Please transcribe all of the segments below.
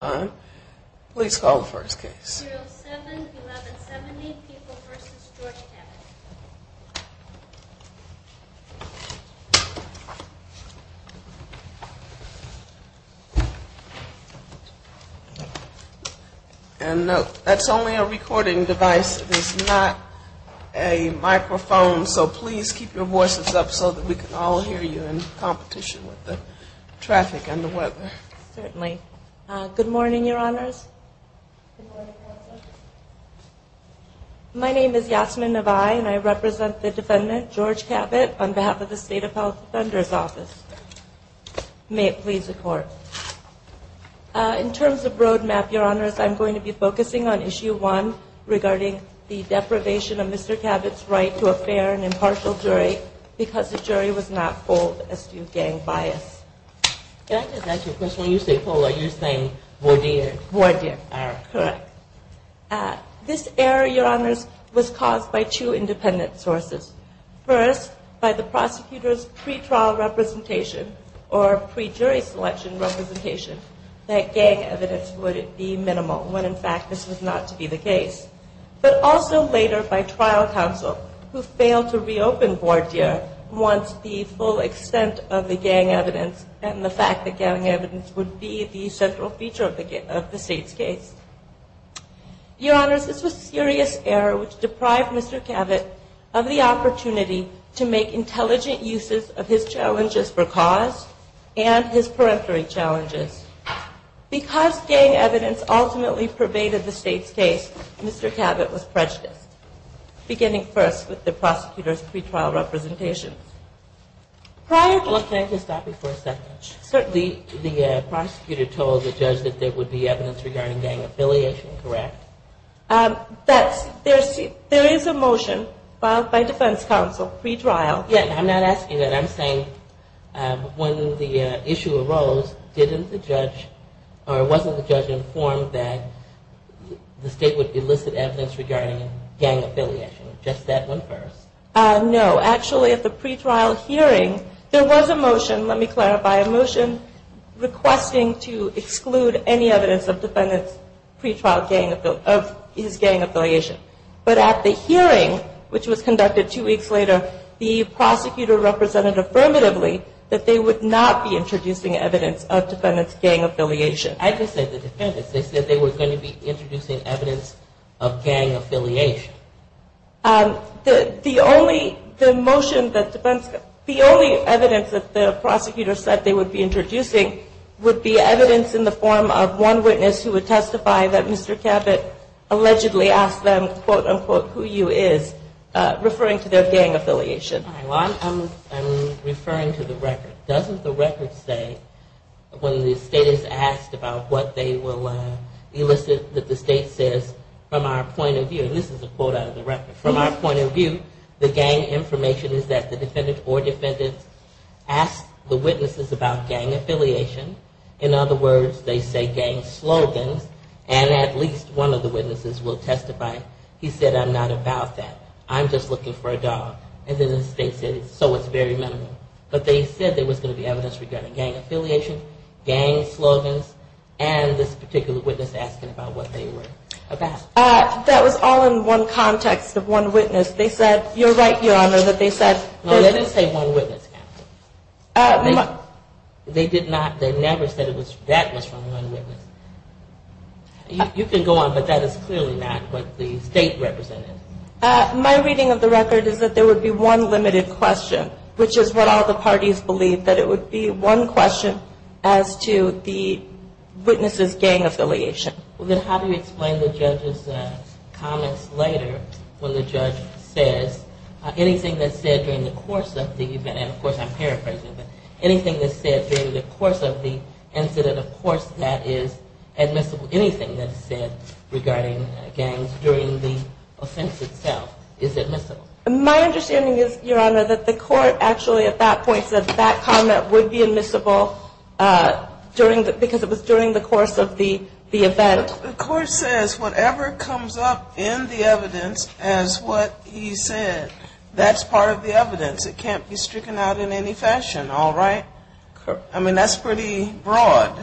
And that's only a recording device. It is not a microphone. So please keep your voices up so that we can all hear you in competition with the traffic and the weather. Certainly. Good morning, Your Honors. My name is Yasmin Navai, and I represent the defendant, George Cabot, on behalf of the State Appellate Defender's Office. May it please the Court. In terms of roadmap, Your Honors, I'm going to be focusing on Issue 1 regarding the deprivation of Mr. Cabot's right to a fair and impartial jury because the jury was not full S.U. gang bias. May I just ask you a question? When you say full, are you saying voir dire? Correct. This error, Your Honors, was caused by two independent sources. First, by the prosecutor's pre-trial representation or pre-jury selection representation that gang evidence would be minimal when in fact this was not to be the case. But also later by trial counsel who failed to reopen voir dire once the full extent of the gang evidence and the fact that gang evidence would be the central feature of the State's case. Your Honors, this was a serious error which deprived Mr. Cabot of the opportunity to make intelligent uses of his challenges for cause and his peremptory challenges. Because gang evidence ultimately pervaded the State's case, Mr. Cabot was prejudiced, beginning first with the prosecutor's pre-trial representation. Can I just stop you for a second? Certainly. The prosecutor told the judge that there would be evidence regarding gang affiliation, correct? There is a motion filed by defense counsel, pre-trial. I'm not asking that. I'm saying when the issue arose, wasn't the judge informed that the State would elicit evidence regarding gang affiliation, just that one verse? No. Actually at the pre-trial hearing, there was a motion, let me clarify, a motion requesting to exclude any evidence of defendant's pre-trial gang affiliation. But at the hearing, which was conducted two weeks later, the prosecutor represented affirmatively that they would not be introducing evidence of defendant's gang affiliation. I just said the defendants. They said they were going to be introducing evidence of gang affiliation. The only evidence that the prosecutor said they would be introducing would be evidence in the form of one witness who would testify that Mr. Cabot allegedly asked them, quote unquote, who you is, referring to their gang affiliation. I'm referring to the record. When the State is asked about what they will elicit, that the State says, from our point of view, and this is a quote out of the record, from our point of view, the gang information is that the defendant or defendants ask the witnesses about gang affiliation. In other words, they say gang slogans, and at least one of the witnesses will testify. He said, I'm not about that. I'm just looking for a dog. And then the State said, so it's very minimal. But they said there was going to be evidence regarding gang affiliation, gang slogans, and this particular witness asking about what they were about. That was all in one context of one witness. They said, you're right, Your Honor, that they said. No, they didn't say one witness. They did not, they never said that was from one witness. You can go on, but that is clearly not what the State represented. My reading of the record is that there would be one limited question, which is what all the parties believe, that it would be one question as to the witnesses' gang affiliation. Well, then how do you explain the judge's comments later when the judge says, anything that's said during the course of the event, and of course I'm paraphrasing, but anything that's said during the course of the incident, of course that is admissible. Anything that's said regarding gangs during the offense itself is admissible. My understanding is, Your Honor, that the court actually at that point said that comment would be admissible because it was during the course of the event. The court says whatever comes up in the evidence as what he said, that's part of the evidence. It can't be stricken out in any fashion, all right? I mean, that's pretty broad.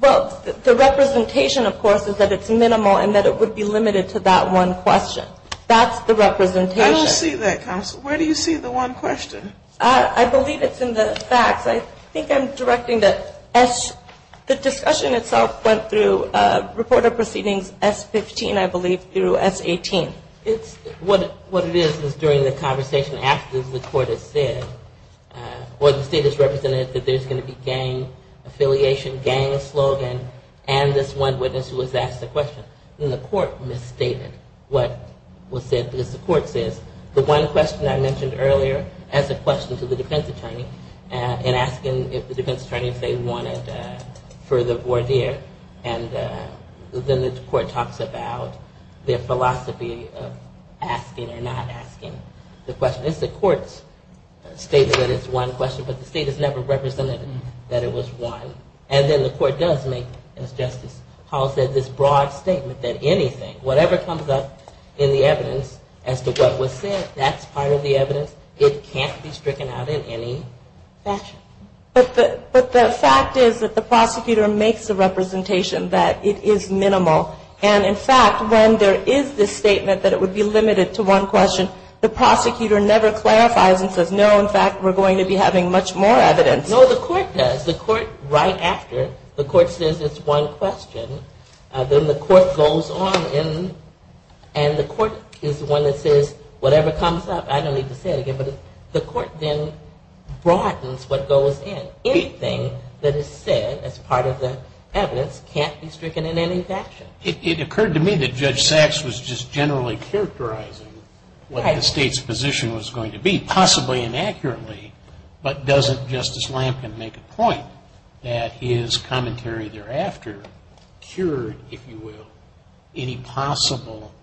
Well, the representation, of course, is that it's minimal and that it would be limited to that one question. That's the representation. I don't see that, Counsel. Where do you see the one question? I believe it's in the facts. I think I'm directing that the discussion itself went through Report of Proceedings S15, I believe, through S18. What it is is during the conversation after the court has said, or the state has represented that there's going to be gang affiliation, gang slogan, and this one witness who was asked a question. And the court misstated what was said because the court says the one question I mentioned earlier as a question to the defense attorney in asking if the defense attorney said he wanted further voir dire. And then the court talks about their philosophy of asking or not asking the question. It's the court's statement that it's one question, but the state has never represented that it was one. And then the court does make, as Justice Hall said, this broad statement that anything, whatever comes up in the evidence as to what was said, that's part of the evidence. It can't be stricken out in any fashion. But the fact is that the prosecutor makes the representation that it is minimal. And, in fact, when there is this statement that it would be limited to one question, the prosecutor never clarifies and says, no, in fact, we're going to be having much more evidence. No, the court does. The court, right after, the court says it's one question. Then the court goes on and the court is the one that says whatever comes up. I don't need to say it again, but the court then broadens what goes in. Anything that is said as part of the evidence can't be stricken in any fashion. It occurred to me that Judge Sachs was just generally characterizing what the state's position was going to be, possibly inaccurately. But doesn't Justice Lampkin make a point that his commentary thereafter cured, if you will, any possible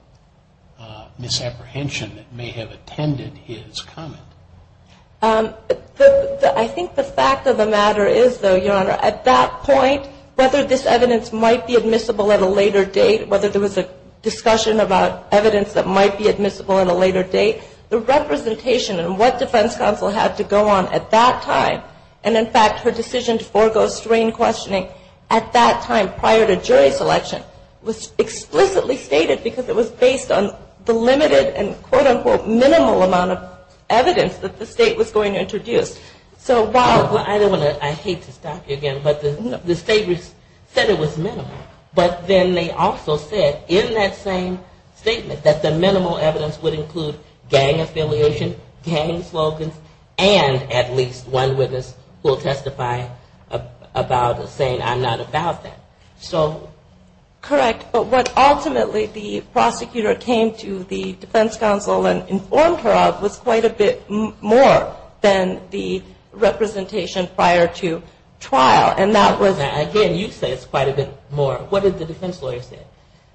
misapprehension that may have attended to the fact that the defense counsel had to go on at that time and, in fact, her decision to forego strain questioning at that time prior to jury selection was explicitly stated because it was based on the limited and, quote, unquote, minimal amount of evidence. I hate to stop you again, but the state said it was minimal. But then they also said in that same statement that the minimal evidence would include gang affiliation, gang slogans, and at least one witness who will testify about saying I'm not about that. Correct, but what ultimately the prosecutor came to the defense counsel and informed her of was that there was no evidence of gang affiliation. And that was quite a bit more than the representation prior to trial, and that was Again, you say it's quite a bit more. What did the defense lawyer say?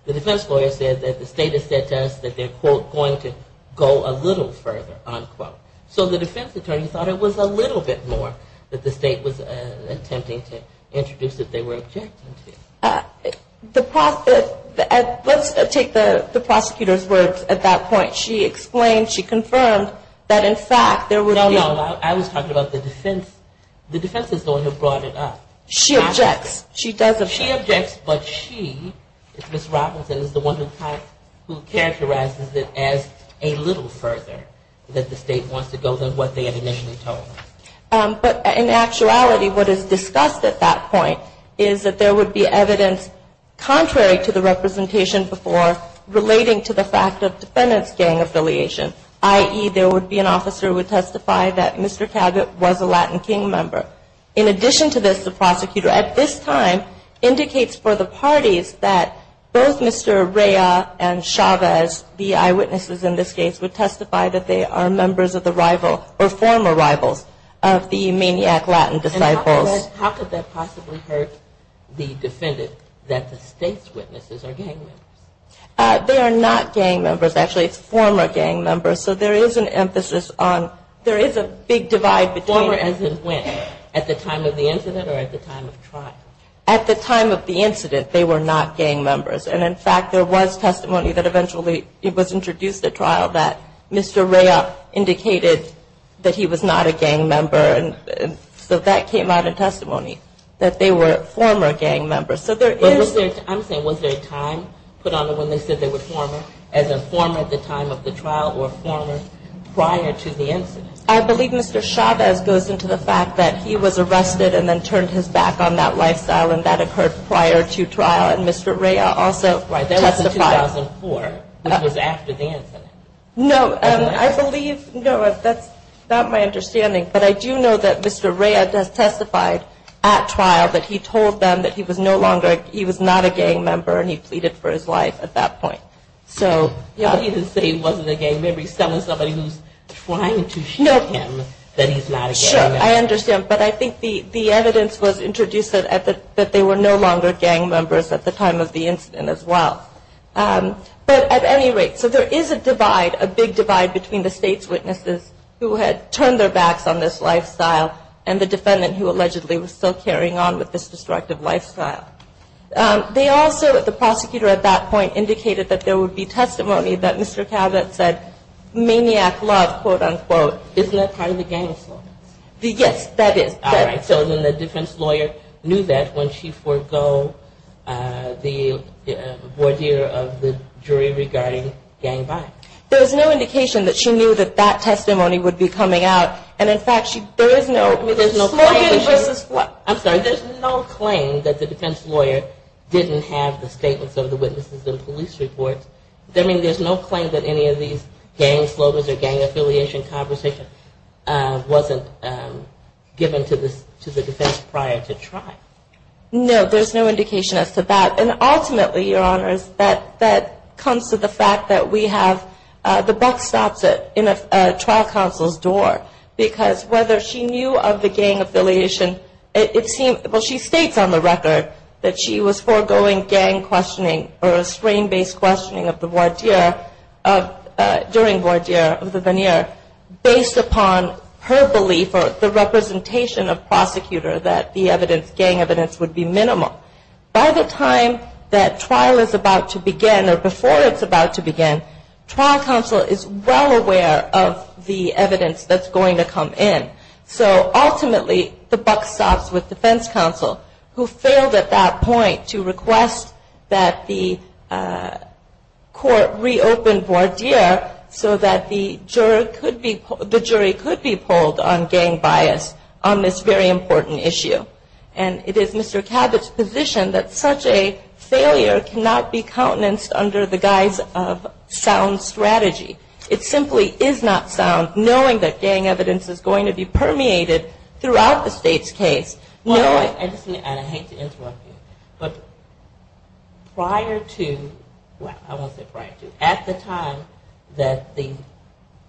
The defense lawyer said that the state has said to us that they're, quote, going to go a little further, unquote. So the defense attorney thought it was a little bit more that the state was attempting to introduce that they were objecting to. Let's take the prosecutor's words at that point. She explained, she confirmed that, in fact, there would be No, no, I was talking about the defense. The defense is the one who brought it up. She objects. She does object. But she, Ms. Robinson, is the one who characterizes it as a little further that the state wants to go than what they had initially told us. But in actuality, what is discussed at that point is that there would be evidence contrary to the representation before relating to the fact of defendant's gang affiliation. I.e., there would be an officer who would testify that Mr. Cabot was a Latin King member. In addition to this, the prosecutor at this time indicates for the parties that both Mr. Rea and Chavez, the eyewitnesses in this case, would testify that they are members of the rival or former rivals of the maniac Latin disciples. And how could that possibly hurt the defendant that the state's witnesses are gang members? They are not gang members, actually. It's former gang members, so there is an emphasis on, there is a big divide between Former as in when? At the time of the incident or at the time of trial? At the time of the incident, they were not gang members. And in fact, there was testimony that eventually it was introduced at trial that Mr. Rea indicated that he was not a gang member. And so that came out in testimony, that they were former gang members. I'm saying, was there a time put on when they said they were former, as in former at the time of the trial or former prior to the incident? I believe Mr. Chavez goes into the fact that he was arrested and then turned his back on that lifestyle, and that occurred prior to trial, and Mr. Rea also testified. That was in 2004, which was after the incident. No, I believe, no, that's not my understanding. But I do know that Mr. Rea has testified at trial that he told them that he was no longer, he was not a gang member and he pleaded for his life at that point. He didn't say he wasn't a gang member, he's telling somebody who's trying to shoot him that he's not a gang member. Sure, I understand. But I think the evidence was introduced that they were no longer gang members at the time of the incident as well. But at any rate, so there is a divide, a big divide between the state's witnesses who had turned their backs on this lifestyle and the defendant who allegedly was still carrying on with this destructive lifestyle. They also, the prosecutor at that point indicated that there would be testimony that Mr. Chavez said, quote, unquote, maniac love, quote, unquote. Isn't that part of the gang slogan? Yes, that is. All right, so then the defense lawyer knew that when she forgo the voir dire of the jury regarding gang violence. There was no indication that she knew that that testimony would be coming out, and in fact, there is no claim that she knew that this gang slogan or gang affiliation conversation wasn't given to the defense prior to trial. No, there's no indication as to that. And ultimately, Your Honors, that comes to the fact that we have, the buck stops at a trial counsel's door. Because whether she knew of the gang affiliation, it seems, well, she states on the record that she was foregoing gang violence during this questioning of the voir dire, during voir dire of the veneer, based upon her belief or the representation of prosecutor that the evidence, gang evidence, would be minimal. By the time that trial is about to begin or before it's about to begin, trial counsel is well aware of the evidence that's going to come in. So ultimately, the buck stops with defense counsel, who failed at that point to request that the court reopen voir dire so that the jury could be polled on gang bias on this very important issue. And it is Mr. Cabot's position that such a failure cannot be countenanced under the guise of sound strategy. It simply is not sound, knowing that gang evidence is going to be permeated throughout the state's case. Well, I hate to interrupt you, but prior to, well, I won't say prior to, at the time that the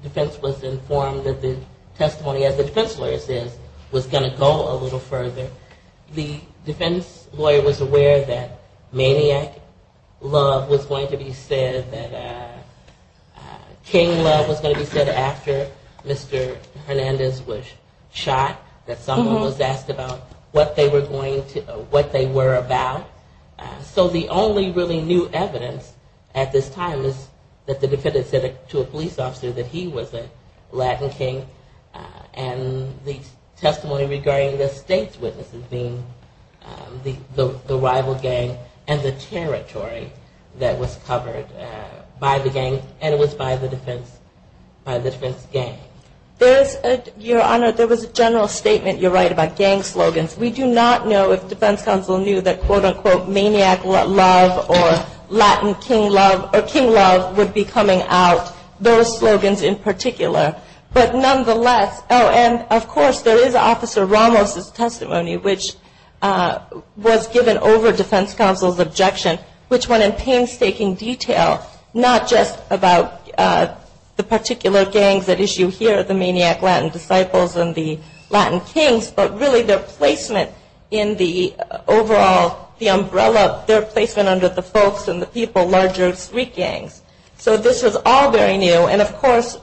defense was informed that the testimony, as the defense lawyer says, was going to go a little further, the defense lawyer was aware that maniac love was going to be said, that king love was going to be said after Mr. Hernandez was shot, that someone was asked about what they were about. So the only really new evidence at this time is that the defendant said to a police officer that he was a Latin king, and the testimony regarding the state's witnesses being the rival gang and the territory that was there. And that was covered by the gang, and it was by the defense gang. There is, Your Honor, there was a general statement, you're right, about gang slogans. We do not know if defense counsel knew that, quote, unquote, maniac love or Latin king love or king love would be coming out, those slogans in particular. But nonetheless, oh, and of course, there is Officer Ramos' testimony, which was given over defense counsel's objection, which went in detail, not just about the particular gangs at issue here, the maniac Latin disciples and the Latin kings, but really their placement in the overall, the umbrella, their placement under the folks and the people, larger street gangs. So this was all very new, and of course,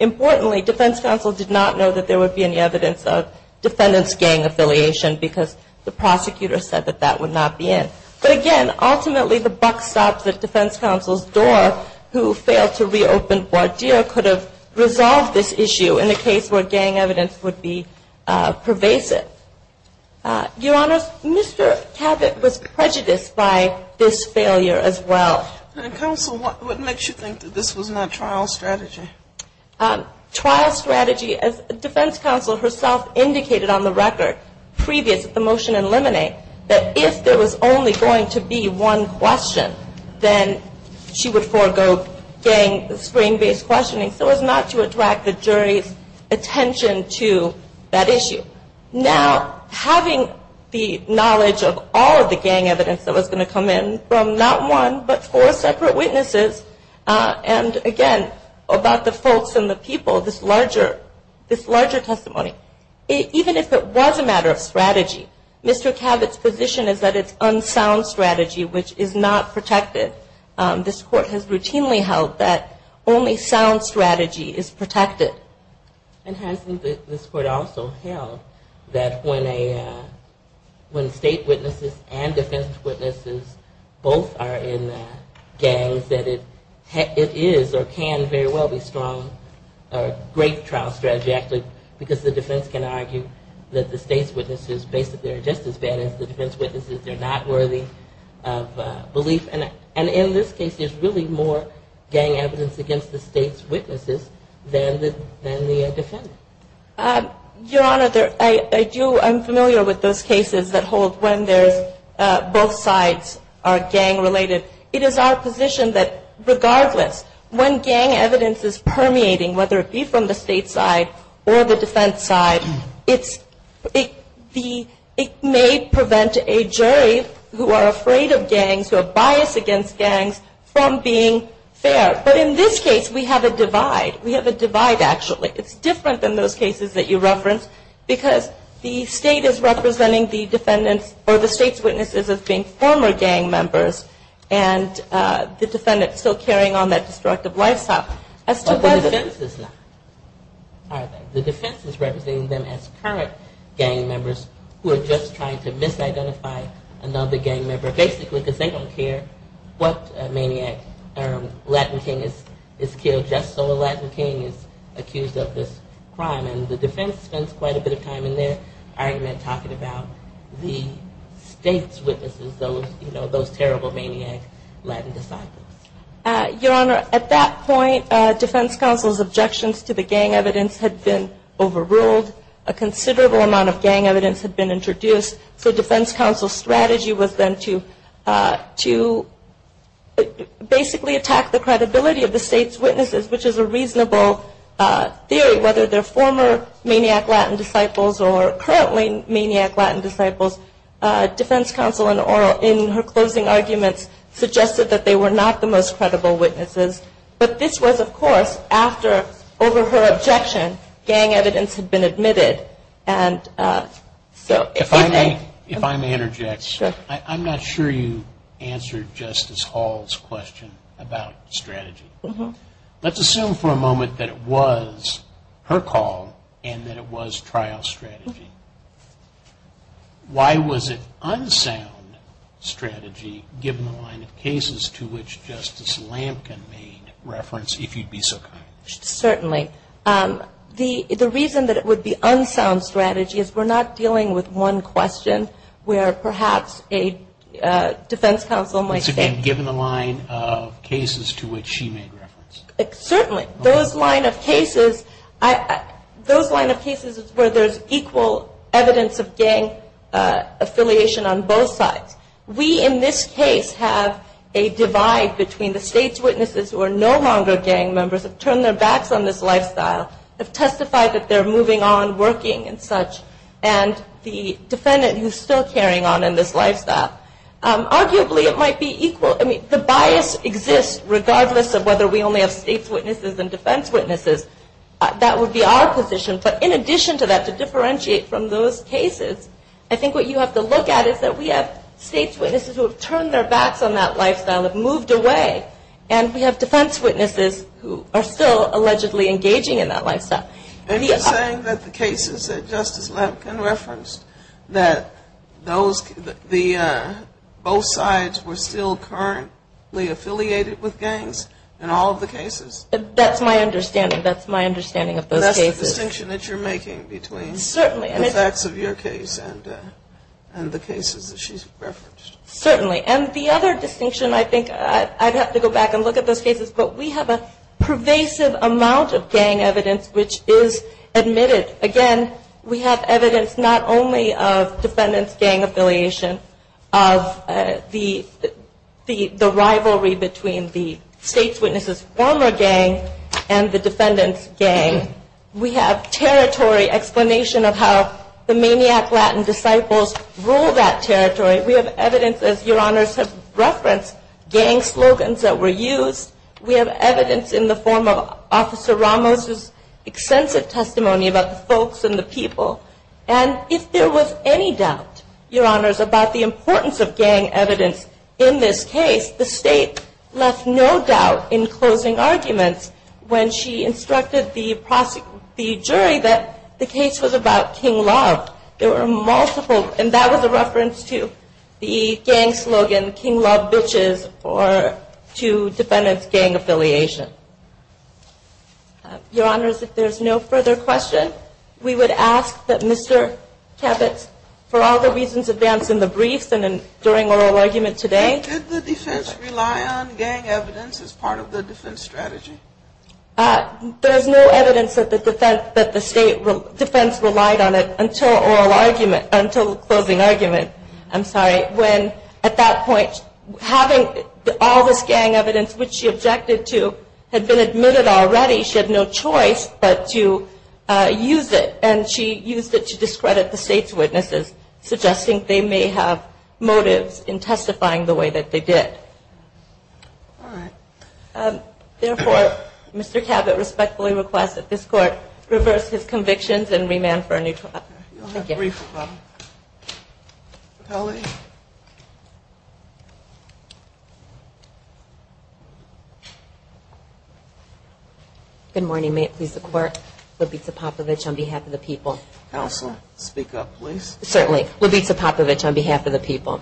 importantly, defense counsel did not know that there would be any evidence of defendant's gang affiliation, because the prosecutor said that that would not be in. But again, ultimately, the buck stops at defense counsel's door, who failed to reopen Bordeaux, could have resolved this issue in a case where gang evidence would be pervasive. Your Honor, Mr. Cabot was prejudiced by this failure as well. And counsel, what makes you think that this was not trial strategy? Trial strategy, as defense counsel herself indicated on the record, previous to the motion in limine, that if there was only gang evidence that was going to be one question, then she would forego gang screen-based questioning, so as not to attract the jury's attention to that issue. Now, having the knowledge of all of the gang evidence that was going to come in, from not one, but four separate witnesses, and again, about the folks and the people, this larger testimony, even if it was a matter of strategy, Mr. Cabot's position is that it's one sound strategy, which is not protected. This Court has routinely held that only sound strategy is protected. And hasn't this Court also held that when state witnesses and defense witnesses both are in gangs, that it is or can very well be strong, a great trial strategy, actually, because the defense can argue that the state's witnesses basically are just as bad as the state's witnesses, and that's a worthy belief. And in this case, there's really more gang evidence against the state's witnesses than the defendant. Your Honor, I do, I'm familiar with those cases that hold when there's both sides are gang-related. It is our position that regardless, when gang evidence is permeating, whether it be from the state side or the defense side, it's it may prevent a jury who are afraid of gangs, who have bias against gangs, from being fair. But in this case, we have a divide. We have a divide, actually. It's different than those cases that you referenced, because the state is representing the defendant's, or the state's witnesses as being former gang members, and the defendant still carrying on that destructive lifestyle. But the defense is not. The defense is representing them as current gang members who are just trying to misidentify another gang member, basically because they don't care what maniac Latin king is killed just so a Latin king is accused of this crime. And the defense spends quite a bit of time in their argument talking about the state's witnesses, those terrible maniac Latin disciples. Your Honor, at that point, defense counsel's objections to the gang evidence had been overruled. A considerable amount of gang evidence had been introduced, so defense counsel's strategy was then to basically attack the credibility of the state's witnesses, which is a reasonable theory, whether they're former maniac Latin disciples or currently maniac Latin disciples. But this was, of course, after, over her objection, gang evidence had been admitted. And so if I may interject, I'm not sure you answered Justice Hall's question about strategy. Let's assume for a moment that it was her call, and that it was trial strategy. Why was it unsound strategy, given the line of cases to which Justice Hall referred? And why was it unsound strategy, given the line of cases to which Justice Lampkin made reference, if you'd be so kind? Certainly. The reason that it would be unsound strategy is we're not dealing with one question where perhaps a defense counsel might say... Given the line of cases to which she made reference. Certainly. Those line of cases, those line of cases where there's equal evidence of gang affiliation on both sides. We in this case have a divide between the state's witnesses who are no longer gang members, have turned their backs on this lifestyle, have testified that they're moving on, working and such, and the defendant who's still carrying on in this lifestyle. If we're talking about defense counsel and defense witnesses, that would be our position, but in addition to that, to differentiate from those cases, I think what you have to look at is that we have state's witnesses who have turned their backs on that lifestyle, have moved away, and we have defense witnesses who are still allegedly engaging in that lifestyle. Are you saying that the cases that Justice Lampkin referenced, that those, that both sides were still currently affiliated with gang affiliation, that's my understanding, that's my understanding of those cases? That's the distinction that you're making between the facts of your case and the cases that she's referenced. Certainly. And the other distinction I think I'd have to go back and look at those cases, but we have a pervasive amount of gang evidence which is admitted. Again, we have evidence not only of defendant's gang affiliation, of the rivalry between the state's witnesses' former gang and the defendant's gang, we have territory explanation of how the Maniac Latin Disciples rule that territory, we have evidence, as your honors have referenced, gang slogans that were used, we have evidence in the form of Officer Ramos' extensive testimony about the folks and the people, and if there was any doubt, your honors, about the importance of closing arguments when she instructed the jury that the case was about King Love. There were multiple, and that was a reference to the gang slogan, King Love Bitches, or to defendant's gang affiliation. Your honors, if there's no further question, we would ask that Mr. Cabot, for all the reasons advanced in the briefs and during oral argument today. There's no evidence that the defense relied on it until closing argument, I'm sorry, when at that point having all this gang evidence which she objected to had been admitted already, she had no choice but to use it, and she used it to discredit the defendant's motives in testifying the way that they did. Therefore, Mr. Cabot respectfully requests that this Court reverse his convictions and remand for a new trial. Thank you. Good morning, may it please the Court, Libita Popovich on behalf of the people. Counsel, speak up please. Certainly, Libita Popovich on behalf of the people.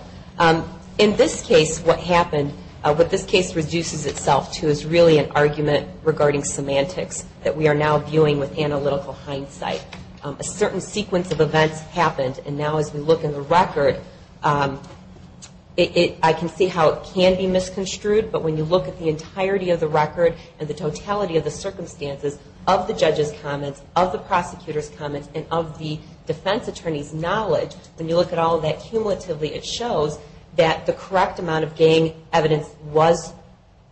In this case, what happened, what this case reduces itself to is really an argument regarding semantics that we are now viewing with analytical hindsight. A certain sequence of events happened, and now as we look in the record, I can see how it can be misconstrued, but when you look at the entirety of the record and the totality of the circumstances of the judge's comments, of the prosecutor's comments, and of the defense attorney's knowledge, when you look at all of that cumulatively, it shows that the correct amount of gang evidence was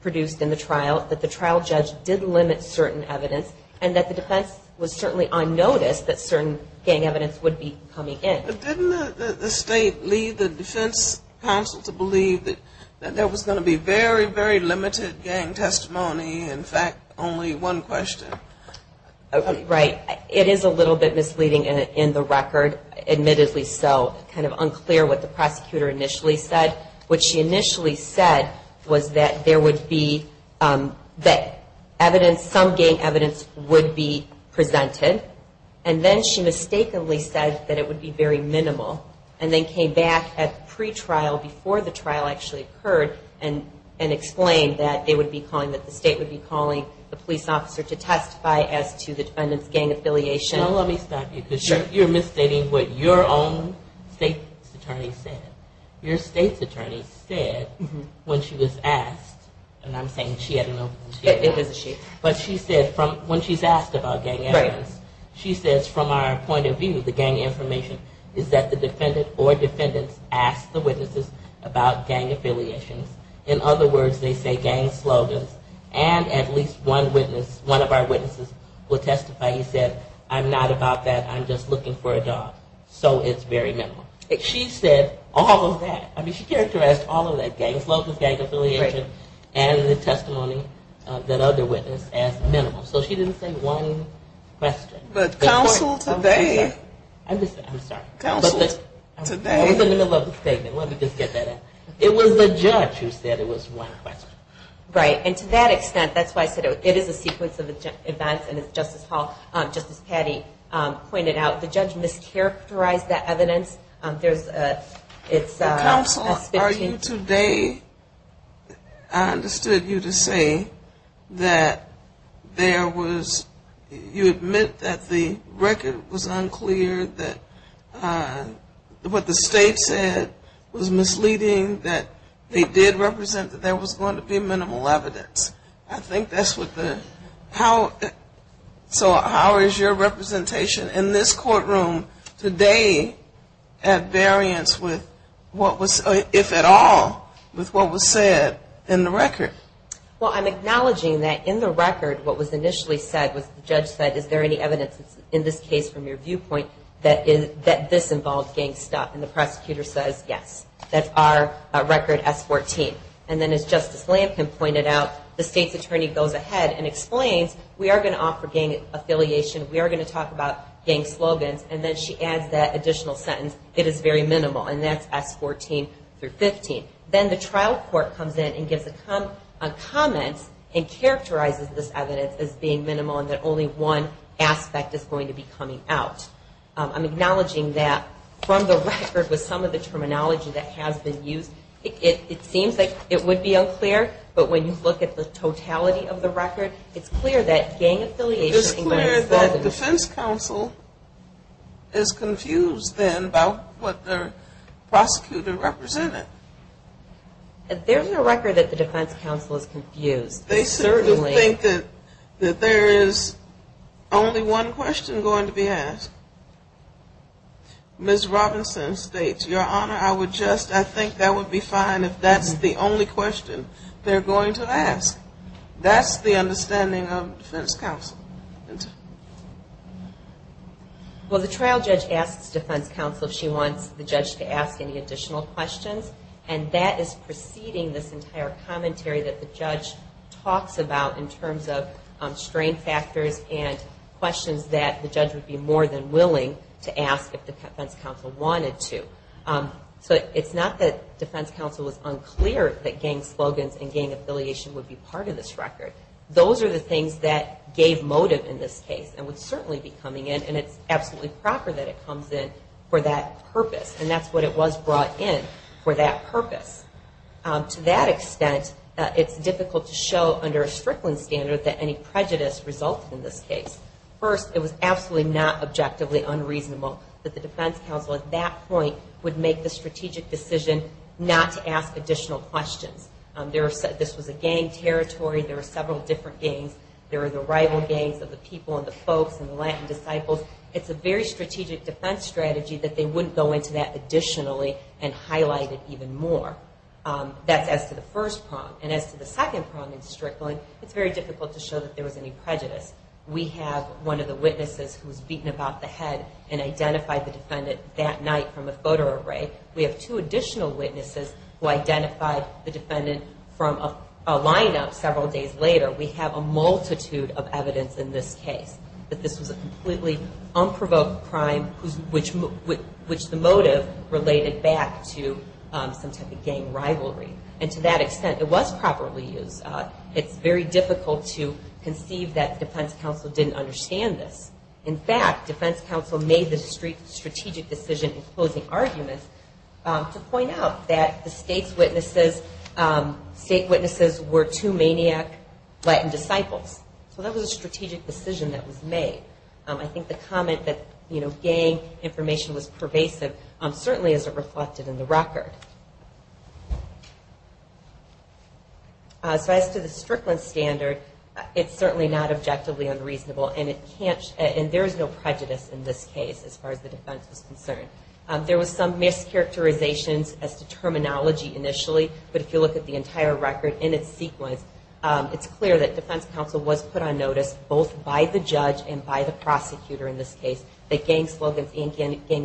produced in the trial, that the trial judge did limit certain evidence, and that the defense was certainly on notice that certain gang evidence would be coming in. But didn't the State lead the defense counsel to believe that there was going to be very, very limited gang testimony, in fact, only one question? Right. It is a little bit misleading in the record, admittedly so, kind of unclear what the prosecutor initially said. What she initially said was that there would be, that evidence, some gang evidence would be presented, and then she mistakenly said that it would be very minimal, and then came back at pretrial, before the trial actually occurred, and explained that they would be calling, that the State would be calling the police officer to testify as to the defendant's gang affiliation. No, let me stop you, because you're misstating what your own State's attorney said. Your State's attorney said, when she was asked, and I'm saying she, I don't know if it was she, but she said, when she's asked about gang evidence, she says, from our point of view, the gang information is that the defendant or defendants asked the witnesses about gang affiliations. In other words, they say gang slogans, and at least one witness, one of our witnesses would testify, he said, I'm not about that, I'm just looking for a dog, so it's very minimal. She said all of that. I mean, she characterized all of that, gang slogans, gang affiliation, and the testimony of that other witness as minimal. So she didn't say one question. But counsel today. I'm sorry. I was in the middle of the statement. Let me just get that out. It was the judge who said it was one question. Right, and to that extent, that's why I said it is a sequence of events, and as Justice Patti pointed out, the judge mischaracterized that evidence. Counsel, are you today, I understood you to say that there was, you admit that the record was unclear, and that the evidence was unclear, that what the state said was misleading, that they did represent that there was going to be minimal evidence. I think that's what the, how, so how is your representation in this courtroom today at variance with what was, if at all, with what was said in the record? Well, I'm acknowledging that in the record what was initially said was the judge said, is there any evidence in this case from your viewpoint that this involved gang stuff? And the prosecutor says, yes. That's our record, S14. And then as Justice Lampkin pointed out, the state's attorney goes ahead and explains, we are going to offer gang affiliation, we are going to talk about gang slogans, and then she adds that additional sentence, it is very minimal, and that's S14 through 15. Then the trial court comes in and gives a comment and characterizes this evidence as being minimal, and that only one aspect is going to be coming out. I'm acknowledging that from the record with some of the terminology that has been used, it seems like it would be unclear, but when you look at the totality of the record, it's clear that gang affiliation. It is clear that defense counsel is confused then about what the prosecutor represented. There's no record that the defense counsel is confused. They certainly think that there is only one question going to be asked. Ms. Robinson states, Your Honor, I would just, I think that would be fine if that's the only question they're going to ask. That's the understanding of defense counsel. Well, the trial judge asks defense counsel if she wants the judge to ask any additional questions, and that is the preceding this entire commentary that the judge talks about in terms of strain factors and questions that the judge would be more than willing to ask if the defense counsel wanted to. It's not that defense counsel was unclear that gang slogans and gang affiliation would be part of this record. Those are the things that gave motive in this case and would certainly be coming in, and it's absolutely proper that it comes in for that purpose. To that extent, it's difficult to show under a Strickland standard that any prejudice resulted in this case. First, it was absolutely not objectively unreasonable that the defense counsel at that point would make the strategic decision not to ask additional questions. This was a gang territory. There were several different gangs. There were the rival gangs of the people and the folks and the Latin disciples. It's a very strategic defense strategy that they wouldn't go into that anymore. That's as to the first problem, and as to the second problem in Strickland, it's very difficult to show that there was any prejudice. We have one of the witnesses who was beaten about the head and identified the defendant that night from a photo array. We have two additional witnesses who identified the defendant from a lineup several days later. We have a multitude of evidence in this case that this was a completely unprovoked crime, which the motive related back to some type of gang rivalry. And to that extent, it was properly used. It's very difficult to conceive that defense counsel didn't understand this. In fact, defense counsel made the strategic decision in closing arguments to point out that the state's witnesses were two maniac Latin disciples. So that was a strategic decision that was made. I think the comment that gang information was used is very important. So as to the Strickland standard, it's certainly not objectively unreasonable, and there is no prejudice in this case as far as the defense is concerned. There was some mischaracterizations as to terminology initially, but if you look at the entire record in its sequence, it's clear that defense counsel was put on notice, both by the judge and by the prosecutor in this case, that gang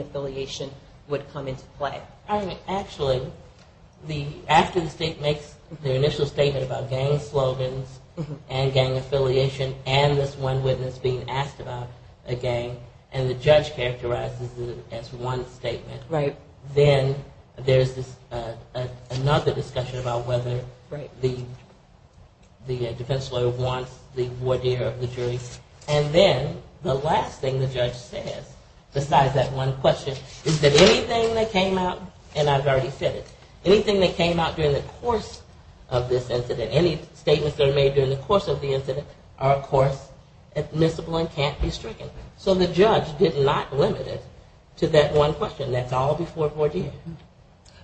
affiliation would come into play. Actually, after the state makes their initial statement about gang slogans and gang affiliation and this one witness being asked about a gang, and the judge characterizes it as one statement, then there's another discussion about whether the defense lawyer wants the voir dire of the jury. And then the last thing the judge says, besides that one question, is whether the judge is willing to give that one question, is that anything that came out, and I've already said it, anything that came out during the course of this incident, any statements that are made during the course of the incident, are of course admissible and can't be stricken. So the judge did not limit it to that one question. That's all before voir dire.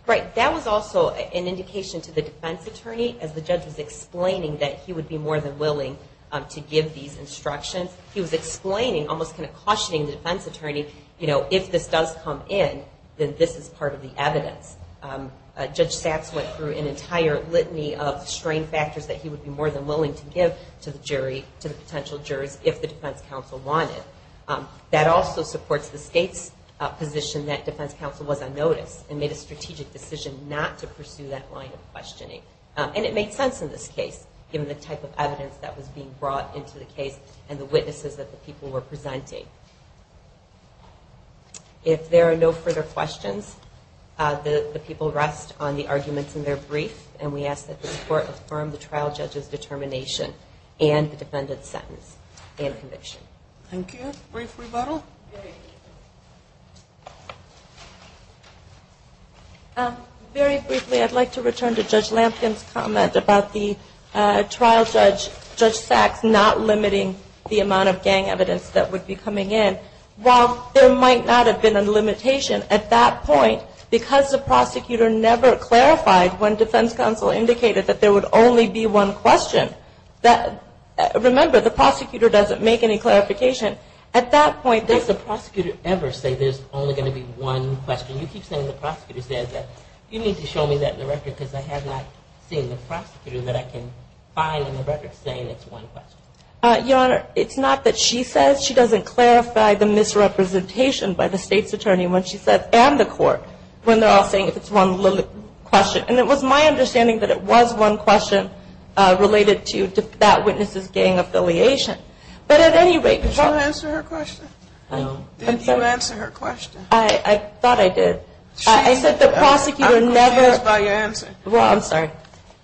Right. That was also an indication to the defense attorney, as the judge was explaining that he would be more than willing to give these instructions. He was explaining, almost kind of cautioning the defense attorney, you know, if this does happen, if this does come in, then this is part of the evidence. Judge Satz went through an entire litany of strain factors that he would be more than willing to give to the jury, to the potential jurors, if the defense counsel wanted. That also supports the state's position that defense counsel was on notice and made a strategic decision not to pursue that line of questioning. And it made sense in this case, given the type of evidence that was being brought into the case and the witnesses that the people were presenting. If there are no further questions, the people rest on the arguments in their brief, and we ask that the court affirm the trial judge's determination and the defendant's sentence and conviction. Thank you. Brief rebuttal? Very briefly, I'd like to return to Judge Lampkin's comment about the trial judge, Judge Satz, not limiting the amount of gang evidence that would be coming in. While there might not have been a limitation, at that point, because the prosecutor never clarified when defense counsel indicated that there would only be one question, that, remember, the prosecutor doesn't make any clarification. At that point, does the prosecutor ever say there's only going to be one question? You keep saying the prosecutor says that. You need to show me that in the record, because I have not seen the prosecutor that I can find in the record that she says she doesn't clarify the misrepresentation by the State's attorney when she says, and the court, when they're all saying if it's one limited question. And it was my understanding that it was one question related to that witness's gang affiliation. But at any rate, the court Did she answer her question? Did you answer her question? I thought I did. I said the prosecutor never I'm confused by your answer. Well, I'm sorry.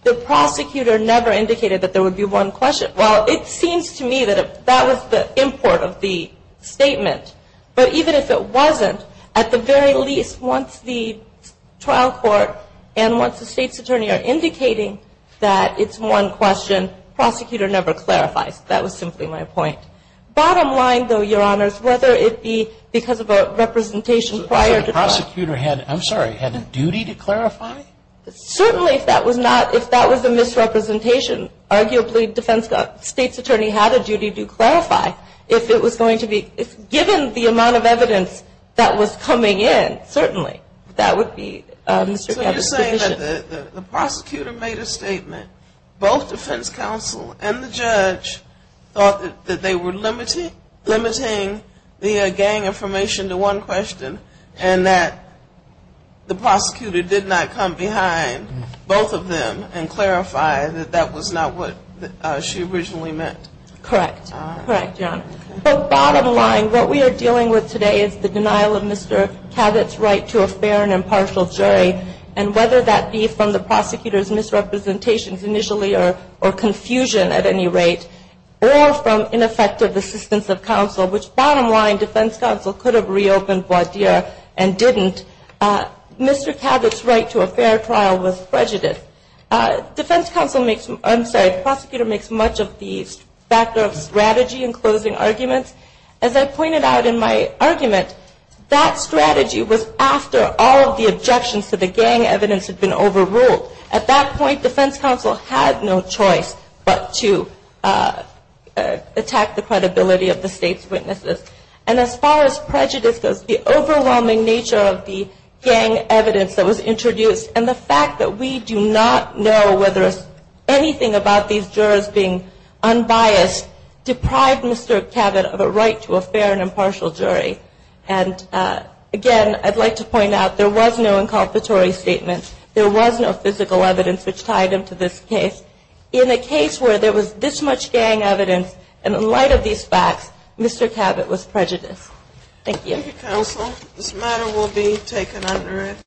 The prosecutor never indicated that there would be one question. Well, it seems to me that that was the import of the statement. But even if it wasn't, at the very least, once the trial court and once the State's attorney are indicating that it's one question, the prosecutor never clarifies. That was simply my point. Bottom line, though, Your Honors, whether it be because of a representation prior to trial. So the prosecutor had, I'm sorry, had a duty to clarify? Certainly, if that was not, if that was a misrepresentation, arguably the State's attorney had a duty to clarify. If it was going to be, if given the amount of evidence that was coming in, certainly, that would be Mr. Gabbard's position. So you're saying that the prosecutor made a statement, both defense counsel and the judge thought that they were limiting the gang information to one question, and that the prosecutor did not come back. And that the judge left behind both of them and clarified that that was not what she originally meant? Correct. Correct, Your Honor. So bottom line, what we are dealing with today is the denial of Mr. Cabot's right to a fair and impartial jury. And whether that be from the prosecutor's misrepresentations initially or confusion at any rate, or from ineffective assistance of counsel, which bottom line, defense counsel could have reopened Vaudeer and didn't. Mr. Cabot's right to a fair and impartial jury is what we're dealing with today. And that's why the trial was prejudiced. Defense counsel makes, I'm sorry, the prosecutor makes much of the factor of strategy in closing arguments. As I pointed out in my argument, that strategy was after all of the objections to the gang evidence had been overruled. At that point, defense counsel had no choice but to attack the credibility of the State's witnesses. And as far as prejudice goes, the overwhelming nature of the gang evidence that was introduced, and the fact that we do not know whether anything about these jurors being unbiased, deprived Mr. Cabot of a right to a fair and impartial jury. And again, I'd like to point out, there was no inculpatory statement. There was no physical evidence which tied him to this case. In a case where there was this much gang evidence, and in light of these facts, Mr. Cabot was acquitted. It was prejudice. Thank you.